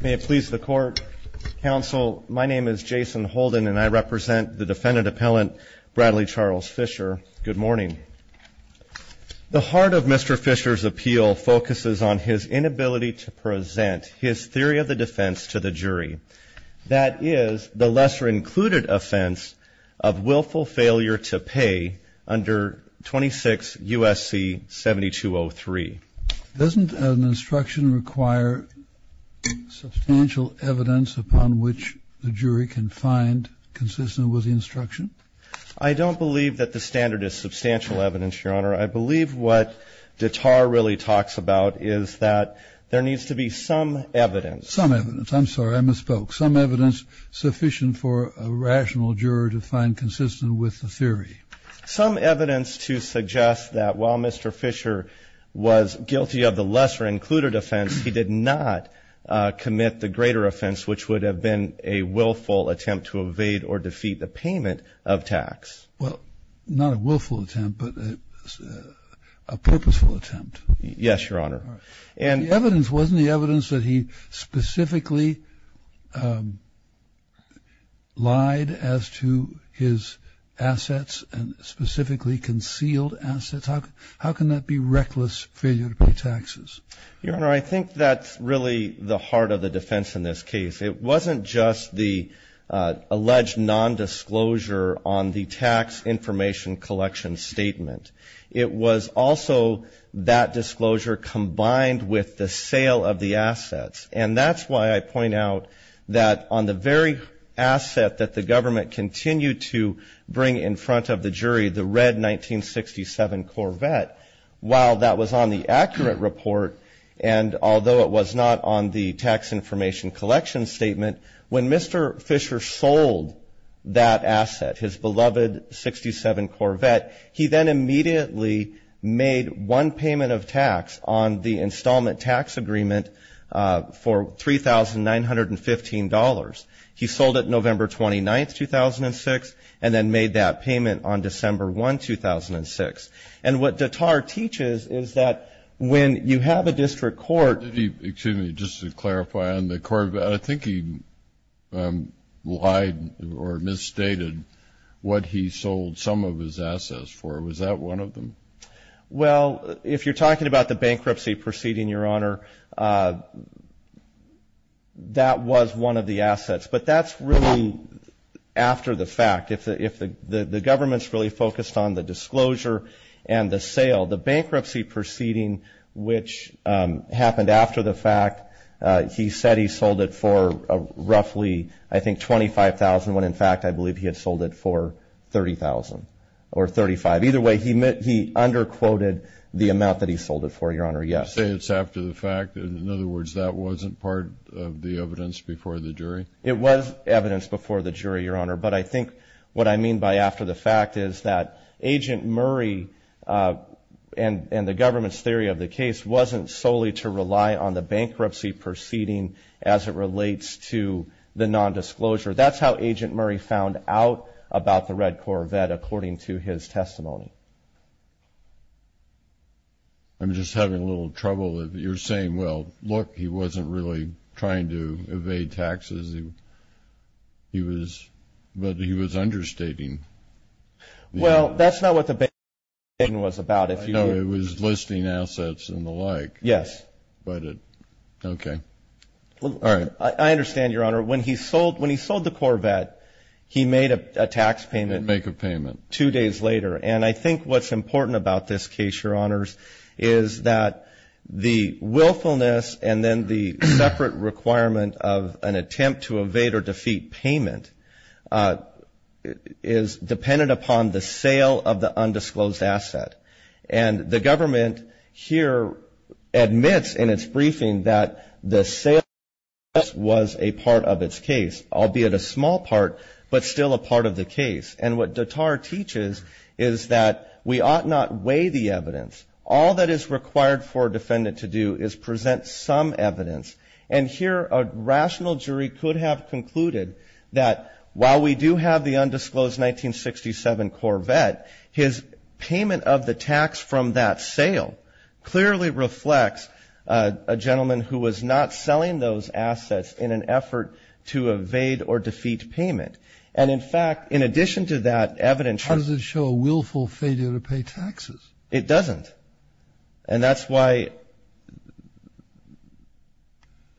May it please the court. Counsel, my name is Jason Holden and I represent the defendant appellant Bradley Charles Fisher. Good morning. The heart of Mr. Fisher's appeal focuses on his inability to present his theory of the defense to the jury. That is the lesser included offense of willful failure to pay under 26 U.S.C. 7203. Doesn't an instruction require substantial evidence upon which the jury can find consistent with the instruction? I don't believe that the standard is substantial evidence, Your Honor. I believe what Dittar really talks about is that there needs to be some evidence. Some evidence. I'm sorry. I misspoke. Some evidence sufficient for a rational juror to find consistent with the theory. Some evidence to suggest that while Mr. Fisher was guilty of the lesser included offense, he did not commit the greater offense, which would have been a willful attempt to evade or defeat the payment of tax. Well, not a willful attempt, but a purposeful attempt. Yes, Your Honor. The evidence wasn't the evidence that he specifically lied as to his assets and specifically concealed assets. How can that be reckless failure to pay taxes? Your Honor, I think that's really the heart of the defense in this case. It wasn't just the alleged nondisclosure on the tax information collection statement. It was also that disclosure combined with the sale of the assets. And that's why I point out that on the very asset that the government continued to bring in front of the jury, the red 1967 Corvette, while that was on the accurate report, and although it was not on the tax information collection statement, when Mr. Fisher sold that asset, his beloved 1967 Corvette, he then immediately made one payment of tax on the installment tax agreement for $3,915. He sold it November 29th, 2006, and then made that payment on December 1, 2006. And what Dattar teaches is that when you have a district court. Excuse me. Just to clarify on the Corvette, I think he lied or misstated what he sold some of his assets for. Was that one of them? Well, if you're talking about the bankruptcy proceeding, Your Honor, that was one of the assets. But that's really after the fact. If the government's really focused on the disclosure and the sale, the bankruptcy proceeding, which happened after the fact, he said he sold it for roughly, I think, $25,000, when in fact I believe he had sold it for $30,000 or $35,000. Either way, he underquoted the amount that he sold it for, Your Honor. Yes. You say it's after the fact. In other words, that wasn't part of the evidence before the jury? It was evidence before the jury, Your Honor. But I think what I mean by after the fact is that Agent Murray and the government's theory of the case wasn't solely to rely on the bankruptcy proceeding as it relates to the nondisclosure. That's how Agent Murray found out about the Red Corvette, according to his testimony. I'm just having a little trouble. You're saying, well, look, he wasn't really trying to evade taxes. He was understating. Well, that's not what the bankruptcy proceeding was about. I know it was listing assets and the like. Yes. Okay. All right. I understand, Your Honor. When he sold the Corvette, he made a tax payment. He didn't make a payment. Two days later. And I think what's important about this case, Your Honors, is that the willfulness and then the separate requirement of an attempt to evade or defeat payment is dependent upon the sale of the undisclosed asset. And the government here admits in its briefing that the sale was a part of its case, albeit a small part, but still a part of the case. And what Dattar teaches is that we ought not weigh the evidence. All that is required for a defendant to do is present some evidence. And here a rational jury could have concluded that while we do have the undisclosed 1967 Corvette, his payment of the tax from that sale clearly reflects a gentleman who was not selling those assets in an effort to evade or defeat payment. And, in fact, in addition to that evidence. How does it show a willful failure to pay taxes? It doesn't. And that's why,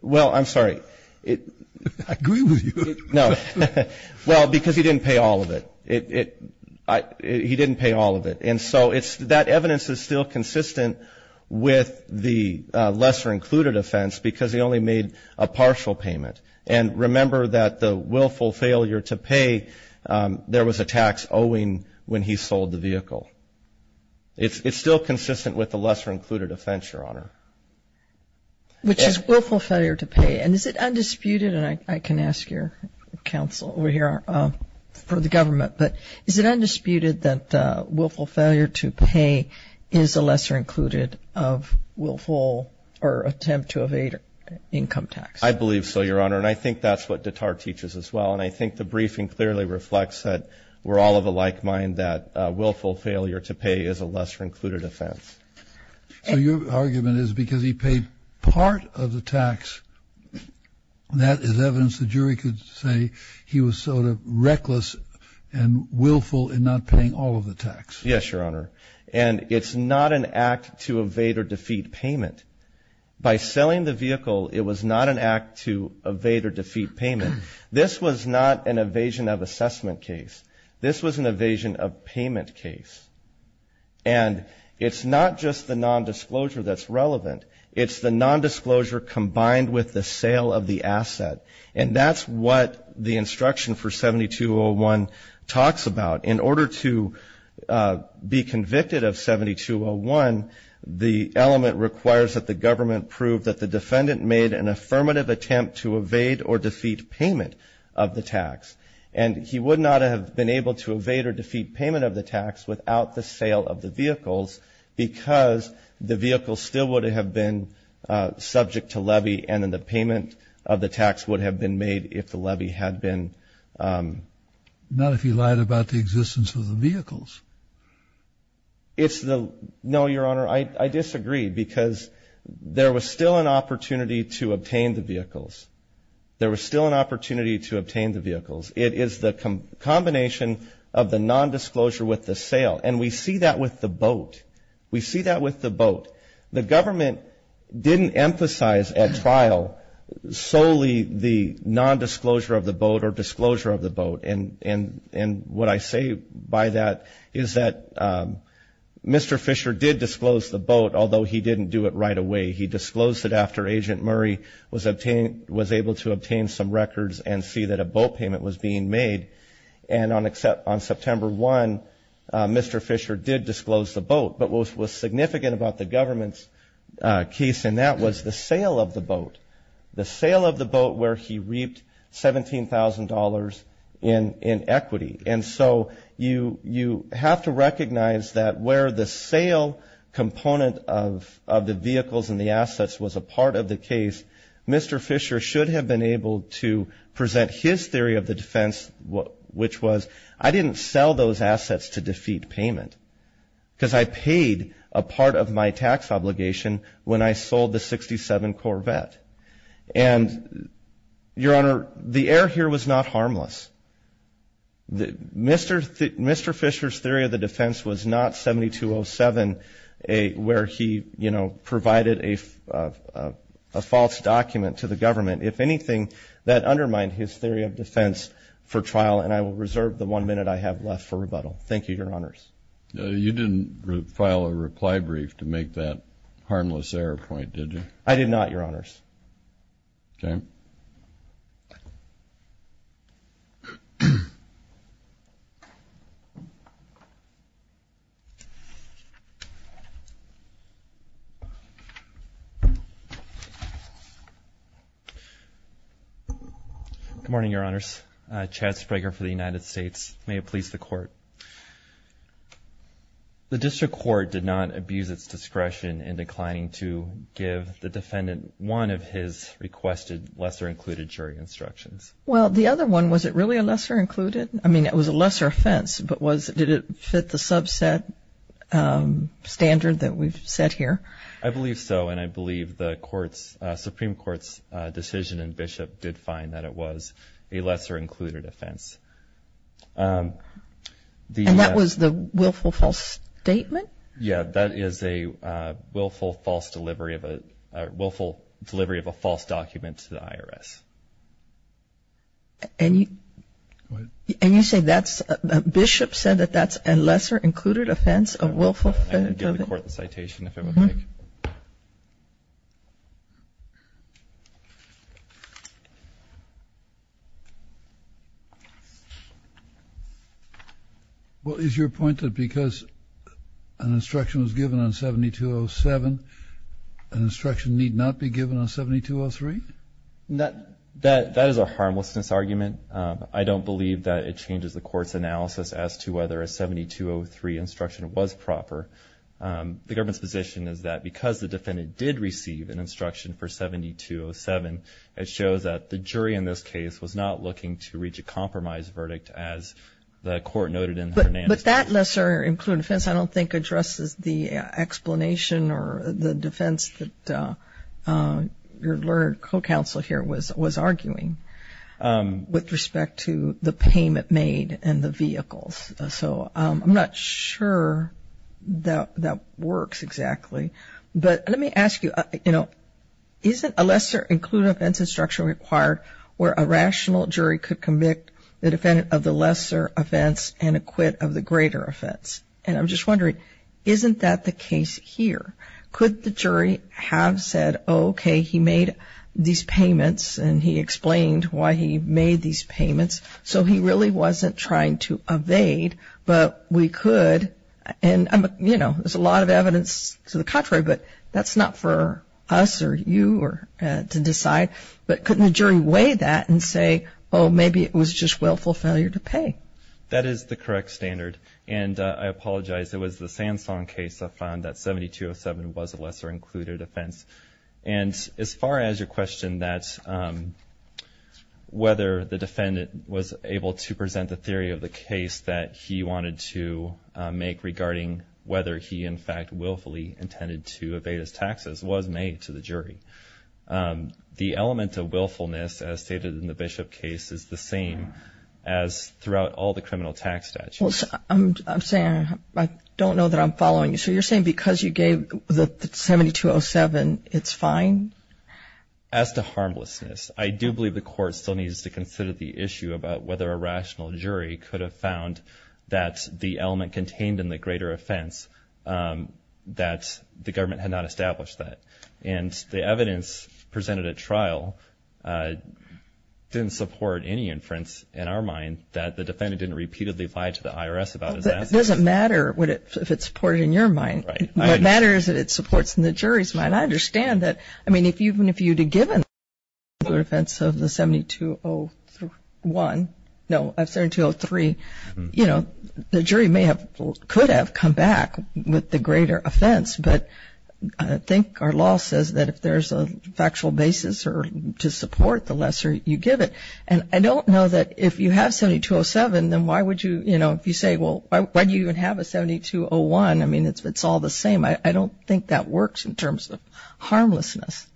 well, I'm sorry. I agree with you. No. Well, because he didn't pay all of it. He didn't pay all of it. And so that evidence is still consistent with the lesser included offense because he only made a partial payment. And remember that the willful failure to pay, there was a tax owing when he sold the vehicle. It's still consistent with the lesser included offense, Your Honor. Which is willful failure to pay. And is it undisputed, and I can ask your counsel over here for the government, but is it undisputed that willful failure to pay is a lesser included of willful or attempt to evade income tax? I believe so, Your Honor. And I think that's what Dattar teaches as well. And I think the briefing clearly reflects that we're all of a like mind that willful failure to pay is a lesser included offense. So your argument is because he paid part of the tax, that is evidence the jury could say he was sort of reckless and willful in not paying all of the tax. Yes, Your Honor. And it's not an act to evade or defeat payment. By selling the vehicle, it was not an act to evade or defeat payment. This was not an evasion of assessment case. This was an evasion of payment case. And it's not just the nondisclosure that's relevant. It's the nondisclosure combined with the sale of the asset. And that's what the instruction for 7201 talks about. In order to be convicted of 7201, the element requires that the government prove that the defendant made an affirmative attempt to evade or defeat payment of the tax. And he would not have been able to evade or defeat payment of the tax without the sale of the vehicles because the vehicle still would have been subject to levy and then the payment of the tax would have been made if the levy had been. Not if he lied about the existence of the vehicles. No, Your Honor. I disagree because there was still an opportunity to obtain the vehicles. There was still an opportunity to obtain the vehicles. It is the combination of the nondisclosure with the sale. And we see that with the boat. We see that with the boat. The government didn't emphasize at trial solely the nondisclosure of the boat or disclosure of the boat. And what I say by that is that Mr. Fisher did disclose the boat, although he didn't do it right away. He disclosed it after Agent Murray was able to obtain some records and see that a boat payment was being made. And on September 1, Mr. Fisher did disclose the boat. But what was significant about the government's case in that was the sale of the boat, the sale of the boat where he reaped $17,000 in equity. And so you have to recognize that where the sale component of the vehicles and the assets was a part of the case, Mr. Fisher should have been able to present his theory of the defense, which was I didn't sell those assets to defeat payment because I paid a part of my tax obligation when I sold the 67 Corvette. And, Your Honor, the error here was not harmless. Mr. Fisher's theory of the defense was not 7207 where he, you know, provided a false document to the government. If anything, that undermined his theory of defense for trial, and I will reserve the one minute I have left for rebuttal. Thank you, Your Honors. You didn't file a reply brief to make that harmless error point, did you? I did not, Your Honors. Okay. Good morning, Your Honors. Chad Sprager for the United States. May it please the Court. The district court did not abuse its discretion in declining to give the defendant one of his requested lesser-included jury instructions. Well, the other one, was it really a lesser-included? I mean, it was a lesser offense, but did it fit the subset standard that we've set here? I believe so, and I believe the Supreme Court's decision and Bishop did find that it was a lesser-included offense. And that was the willful false statement? Yeah, that is a willful false delivery of a false document to the IRS. And you say that's, Bishop said that that's a lesser-included offense, a willful? I'm going to give the Court the citation, if it would like. Well, is your point that because an instruction was given on 7207, an instruction need not be given on 7203? That is a harmlessness argument. I don't believe that it changes the Court's analysis as to whether a 7203 instruction was proper. The government's position is that because the defendant did receive an instruction for 7207, it shows that the jury in this case was not looking to reach a compromise verdict, as the Court noted in Hernandez. But that lesser-included offense I don't think addresses the explanation or the defense that your co-counsel here was arguing. With respect to the payment made and the vehicles. So I'm not sure that that works exactly. But let me ask you, you know, isn't a lesser-included offense instruction required where a rational jury could convict the defendant of the lesser offense and acquit of the greater offense? And I'm just wondering, isn't that the case here? Could the jury have said, okay, he made these payments and he explained why he made these payments, so he really wasn't trying to evade, but we could. And, you know, there's a lot of evidence to the contrary, but that's not for us or you to decide. But couldn't the jury weigh that and say, oh, maybe it was just willful failure to pay? That is the correct standard. And I apologize. It was the Sansone case I found that 7207 was a lesser-included offense. And as far as your question that whether the defendant was able to present the theory of the case that he wanted to make regarding whether he, in fact, willfully intended to evade his taxes was made to the jury. The element of willfulness, as stated in the Bishop case, is the same as throughout all the criminal tax statutes. I'm saying I don't know that I'm following you. So you're saying because you gave the 7207, it's fine? As to harmlessness, I do believe the court still needs to consider the issue about whether a rational jury could have found that the element contained in the greater offense that the government had not established that. And the evidence presented at trial didn't support any inference in our mind that the defendant didn't repeatedly lie to the IRS about his assets. It doesn't matter if it's supported in your mind. Right. What matters is that it supports in the jury's mind. I understand that. I mean, even if you had given the greater offense of the 7203, you know, the jury could have come back with the greater offense. But I think our law says that if there's a factual basis to support the lesser you give it. And I don't know that if you have 7207, then why would you, you know, if you say, well, why do you even have a 7201? I mean, it's all the same. I don't think that works in terms of harmlessness.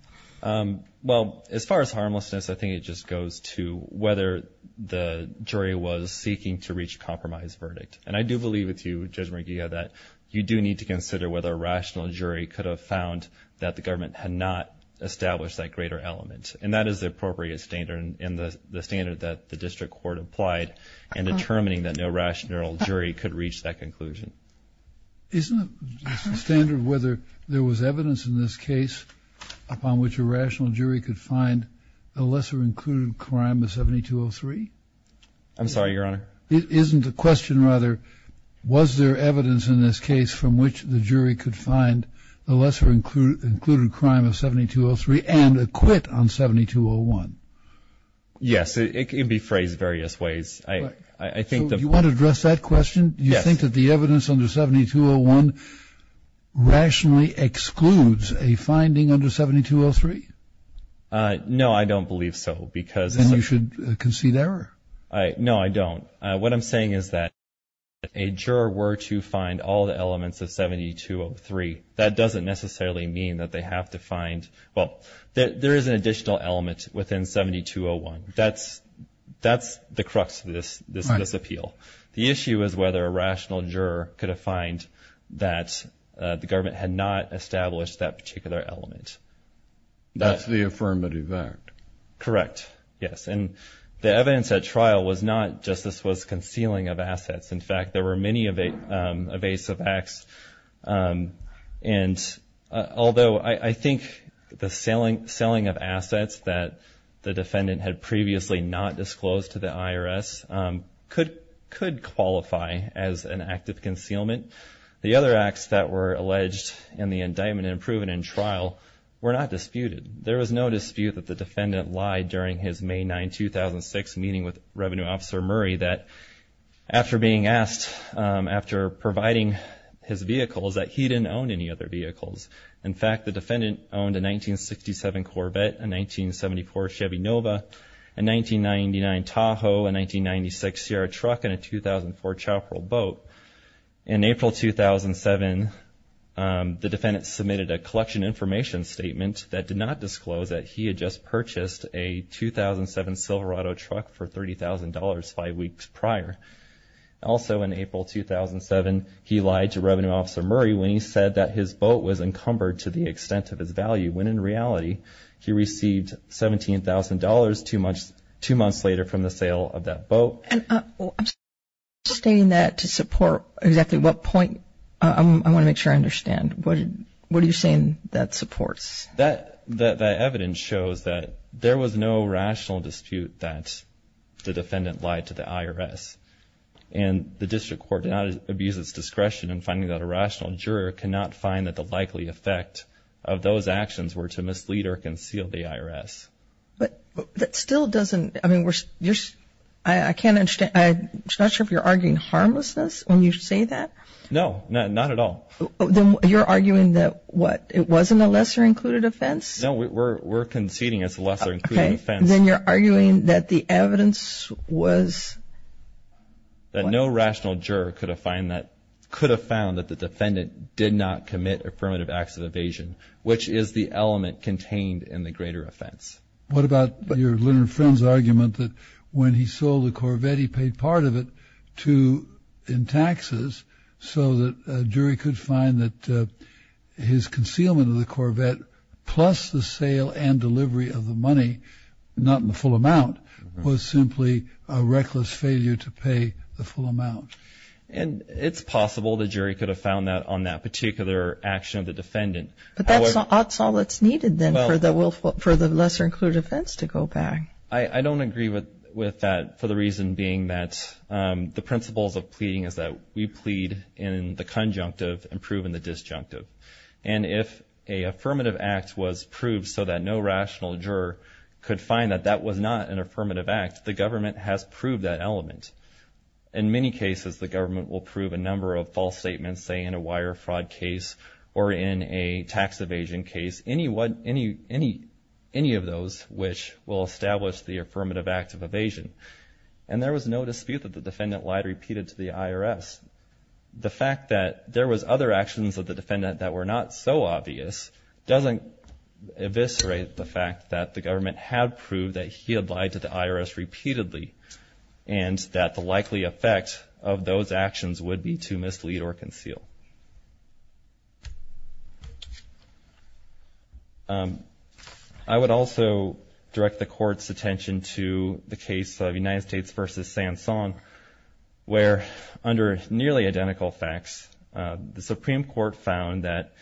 Well, as far as harmlessness, I think it just goes to whether the jury was seeking to reach a compromise verdict. And I do believe with you, Judge McGeehan, that you do need to consider whether a rational jury could have found that the government had not established that greater element. And that is the appropriate standard, and the standard that the district court applied in determining that no rational jury could reach that conclusion. Isn't the standard whether there was evidence in this case upon which a rational jury could find a lesser-included crime of 7203? I'm sorry, Your Honor? Isn't the question, rather, was there evidence in this case from which the jury could find a lesser-included crime of 7203 and acquit on 7201? Yes. It can be phrased various ways. Do you want to address that question? Do you think that the evidence under 7201 rationally excludes a finding under 7203? No, I don't believe so. Then you should concede error. No, I don't. What I'm saying is that if a juror were to find all the elements of 7203, that doesn't necessarily mean that they have to find, well, there is an additional element within 7201. That's the crux of this appeal. The issue is whether a rational juror could have found that the government had not established that particular element. That's the affirmative act. Correct, yes. And the evidence at trial was not just this was concealing of assets. In fact, there were many evasive acts. And although I think the selling of assets that the defendant had previously not disclosed to the IRS could qualify as an act of concealment, the other acts that were alleged in the indictment and proven in trial were not disputed. There was no dispute that the defendant lied during his May 9, 2006, meeting with Revenue Officer Murray that after being asked, after providing his vehicles, that he didn't own any other vehicles. In fact, the defendant owned a 1967 Corvette, a 1974 Chevy Nova, a 1999 Tahoe, a 1996 Sierra truck, and a 2004 Chopper Boat. In April 2007, the defendant submitted a collection information statement that did not disclose that he had just purchased a 2007 Silverado truck for $30,000 five weeks prior. Also in April 2007, he lied to Revenue Officer Murray when he said that his boat was encumbered to the extent of his value, when in reality he received $17,000 two months later from the sale of that boat. I'm stating that to support exactly what point. I want to make sure I understand. What are you saying that supports? That evidence shows that there was no rational dispute that the defendant lied to the IRS. And the district court did not abuse its discretion in finding that a rational juror cannot find that the likely effect of those actions were to mislead or conceal the IRS. But that still doesn't, I mean, I can't understand. I'm not sure if you're arguing harmlessness when you say that. No, not at all. You're arguing that what, it wasn't a lesser included offense? No, we're conceding it's a lesser included offense. Okay. Then you're arguing that the evidence was? That no rational juror could have found that the defendant did not commit affirmative acts of evasion, which is the element contained in the greater offense. What about your little friend's argument that when he sold the Corvette he paid part of it in taxes so that a jury could find that his concealment of the Corvette plus the sale and delivery of the money, not in the full amount, was simply a reckless failure to pay the full amount? And it's possible the jury could have found that on that particular action of the defendant. But that's all that's needed then for the lesser included offense to go back. I don't agree with that, for the reason being that the principles of pleading is that we plead in the conjunctive and prove in the disjunctive. And if a affirmative act was proved so that no rational juror could find that that was not an affirmative act, the government has proved that element. In many cases the government will prove a number of false statements, say in a wire fraud case or in a tax evasion case, any of those which will establish the affirmative act of evasion. And there was no dispute that the defendant lied repeated to the IRS. The fact that there was other actions of the defendant that were not so obvious doesn't eviscerate the fact that the government had proved that he had lied to the IRS repeatedly and that the likely effect of those actions would be to mislead or conceal. I would also direct the court's attention to the case of United States v. Sanson, where under nearly identical facts, the Supreme Court found that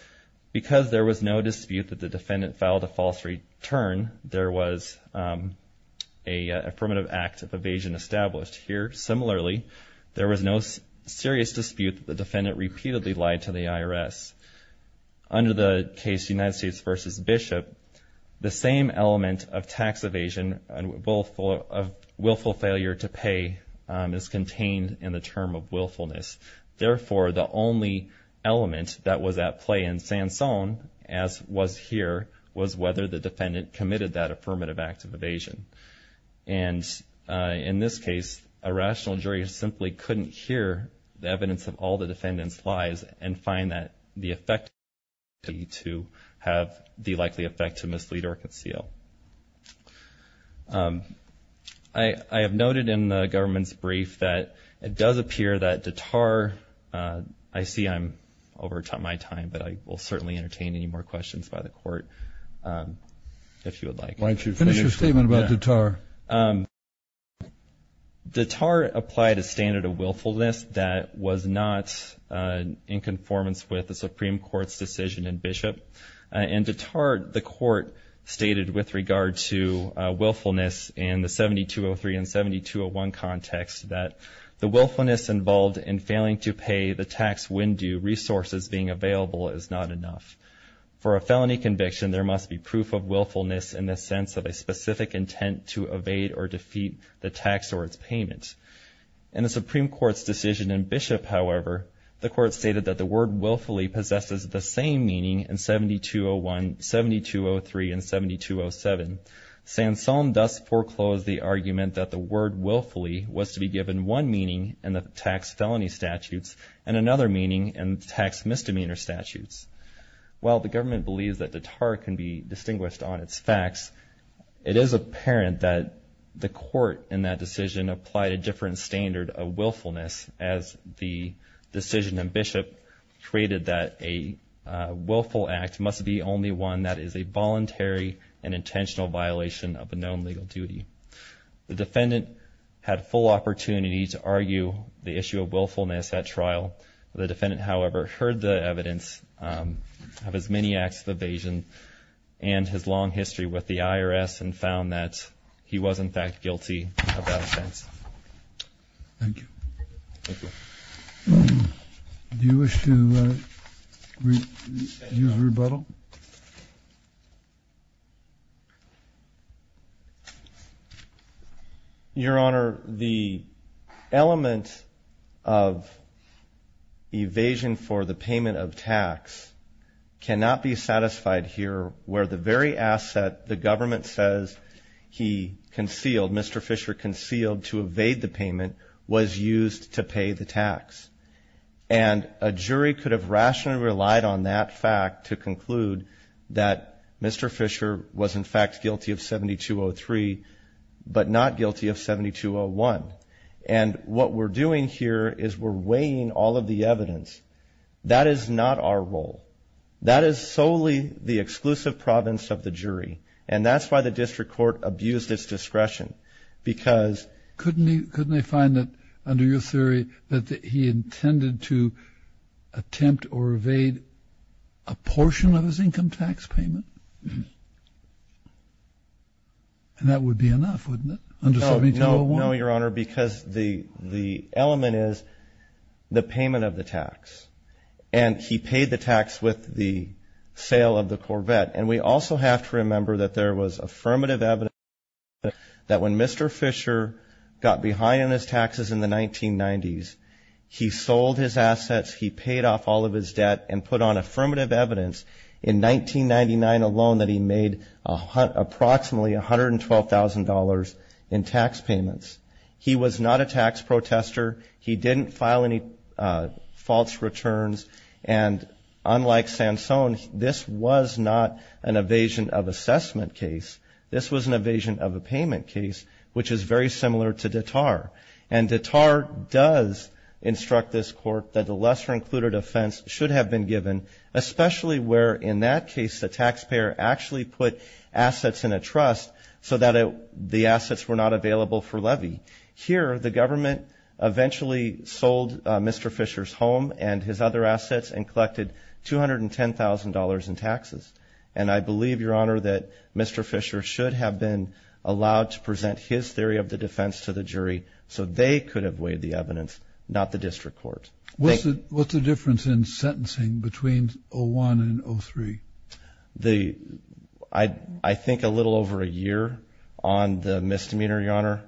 because there was no dispute that the defendant filed a false return, there was an affirmative act of evasion established. Here, similarly, there was no serious dispute that the defendant repeatedly lied to the IRS. Under the case United States v. Bishop, the same element of tax evasion and willful failure to pay is contained in the term of willfulness. Therefore, the only element that was at play in Sanson, as was here, was whether the defendant committed that affirmative act of evasion. And in this case, a rational jury simply couldn't hear the evidence of all the defendant's lies and find that the effect to have the likely effect to mislead or conceal. I have noted in the government's brief that it does appear that Dattar, I see I'm over my time, but I will certainly entertain any more questions by the court if you would like. Why don't you finish your statement about Dattar? Dattar applied a standard of willfulness that was not in conformance with the Supreme Court's decision in Bishop. In Dattar, the court stated with regard to willfulness in the 7203 and 7201 context that the willfulness involved in failing to pay the tax when due resources being available is not enough. For a felony conviction, there must be proof of willfulness in the sense of a specific intent to evade or defeat the tax or its payment. In the Supreme Court's decision in Bishop, however, the court stated that the word willfully possesses the same meaning in 7201, 7203, and 7207. Sansone thus foreclosed the argument that the word willfully was to be given one meaning in the tax felony statutes and another meaning in tax misdemeanor statutes. While the government believes that Dattar can be distinguished on its facts, it is apparent that the court in that decision applied a different standard of willfulness as the decision in Bishop created that a willful act must be only one and that is a voluntary and intentional violation of a known legal duty. The defendant had full opportunity to argue the issue of willfulness at trial. The defendant, however, heard the evidence of his many acts of evasion and his long history with the IRS and found that he was, in fact, guilty of that offense. Thank you. Thank you. Do you wish to use rebuttal? Your Honor, the element of evasion for the payment of tax cannot be satisfied here where the very asset the government says he concealed, Mr. Fisher concealed to evade the payment, was used to pay the tax. And a jury could have rationally relied on that fact to conclude that Mr. Fisher was, in fact, guilty of 7203 but not guilty of 7201. And what we're doing here is we're weighing all of the evidence. That is not our role. That is solely the exclusive province of the jury, and that's why the district court abused its discretion because ---- So you find that under your theory that he intended to attempt or evade a portion of his income tax payment? And that would be enough, wouldn't it, under 7201? No, Your Honor, because the element is the payment of the tax. And he paid the tax with the sale of the Corvette. And we also have to remember that there was affirmative evidence that when Mr. Fisher got behind on his taxes in the 1990s, he sold his assets, he paid off all of his debt, and put on affirmative evidence in 1999 alone that he made approximately $112,000 in tax payments. He was not a tax protester. He didn't file any false returns. And unlike Sansone, this was not an evasion of assessment case. This was an evasion of a payment case, which is very similar to Dattar. And Dattar does instruct this court that the lesser included offense should have been given, especially where in that case the taxpayer actually put assets in a trust so that the assets were not available for levy. Here the government eventually sold Mr. Fisher's home and his other assets and collected $210,000 in taxes. And I believe, Your Honor, that Mr. Fisher should have been allowed to present his theory of the defense to the jury so they could have weighed the evidence, not the district court. What's the difference in sentencing between 01 and 03? I think a little over a year on the misdemeanor, Your Honor.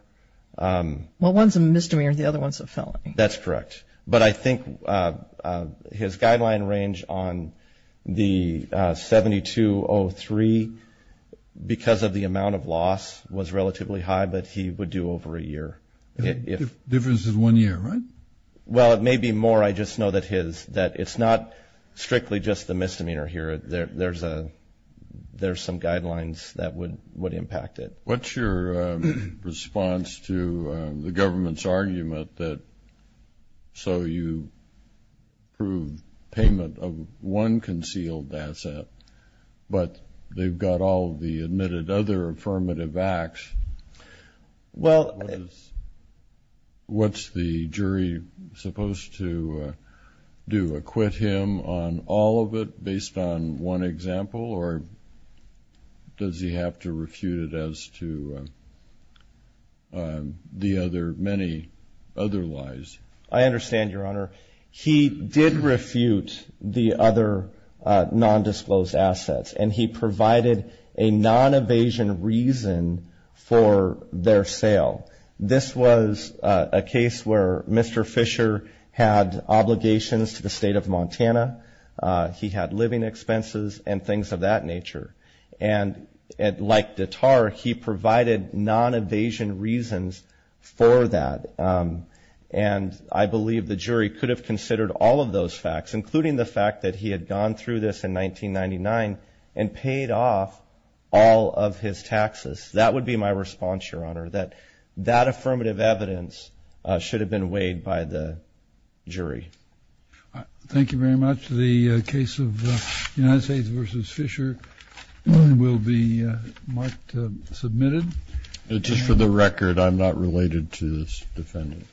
Well, one's a misdemeanor and the other one's a felony. That's correct. But I think his guideline range on the 72-03, because of the amount of loss, was relatively high, but he would do over a year. The difference is one year, right? Well, it may be more. I just know that it's not strictly just the misdemeanor here. There's some guidelines that would impact it. What's your response to the government's argument that so you prove payment of one concealed asset, but they've got all the admitted other affirmative acts? What's the jury supposed to do, acquit him on all of it based on one example, or does he have to refute it as to the many other lies? I understand, Your Honor. He did refute the other nondisclosed assets, and he provided a non-evasion reason for their sale. This was a case where Mr. Fisher had obligations to the state of Montana. He had living expenses and things of that nature. And like Dattar, he provided non-evasion reasons for that. And I believe the jury could have considered all of those facts, including the fact that he had gone through this in 1999 and paid off all of his taxes. That would be my response, Your Honor, that that affirmative evidence should have been weighed by the jury. Thank you very much. The case of United States v. Fisher will be marked submitted. Just for the record, I'm not related to this defendant.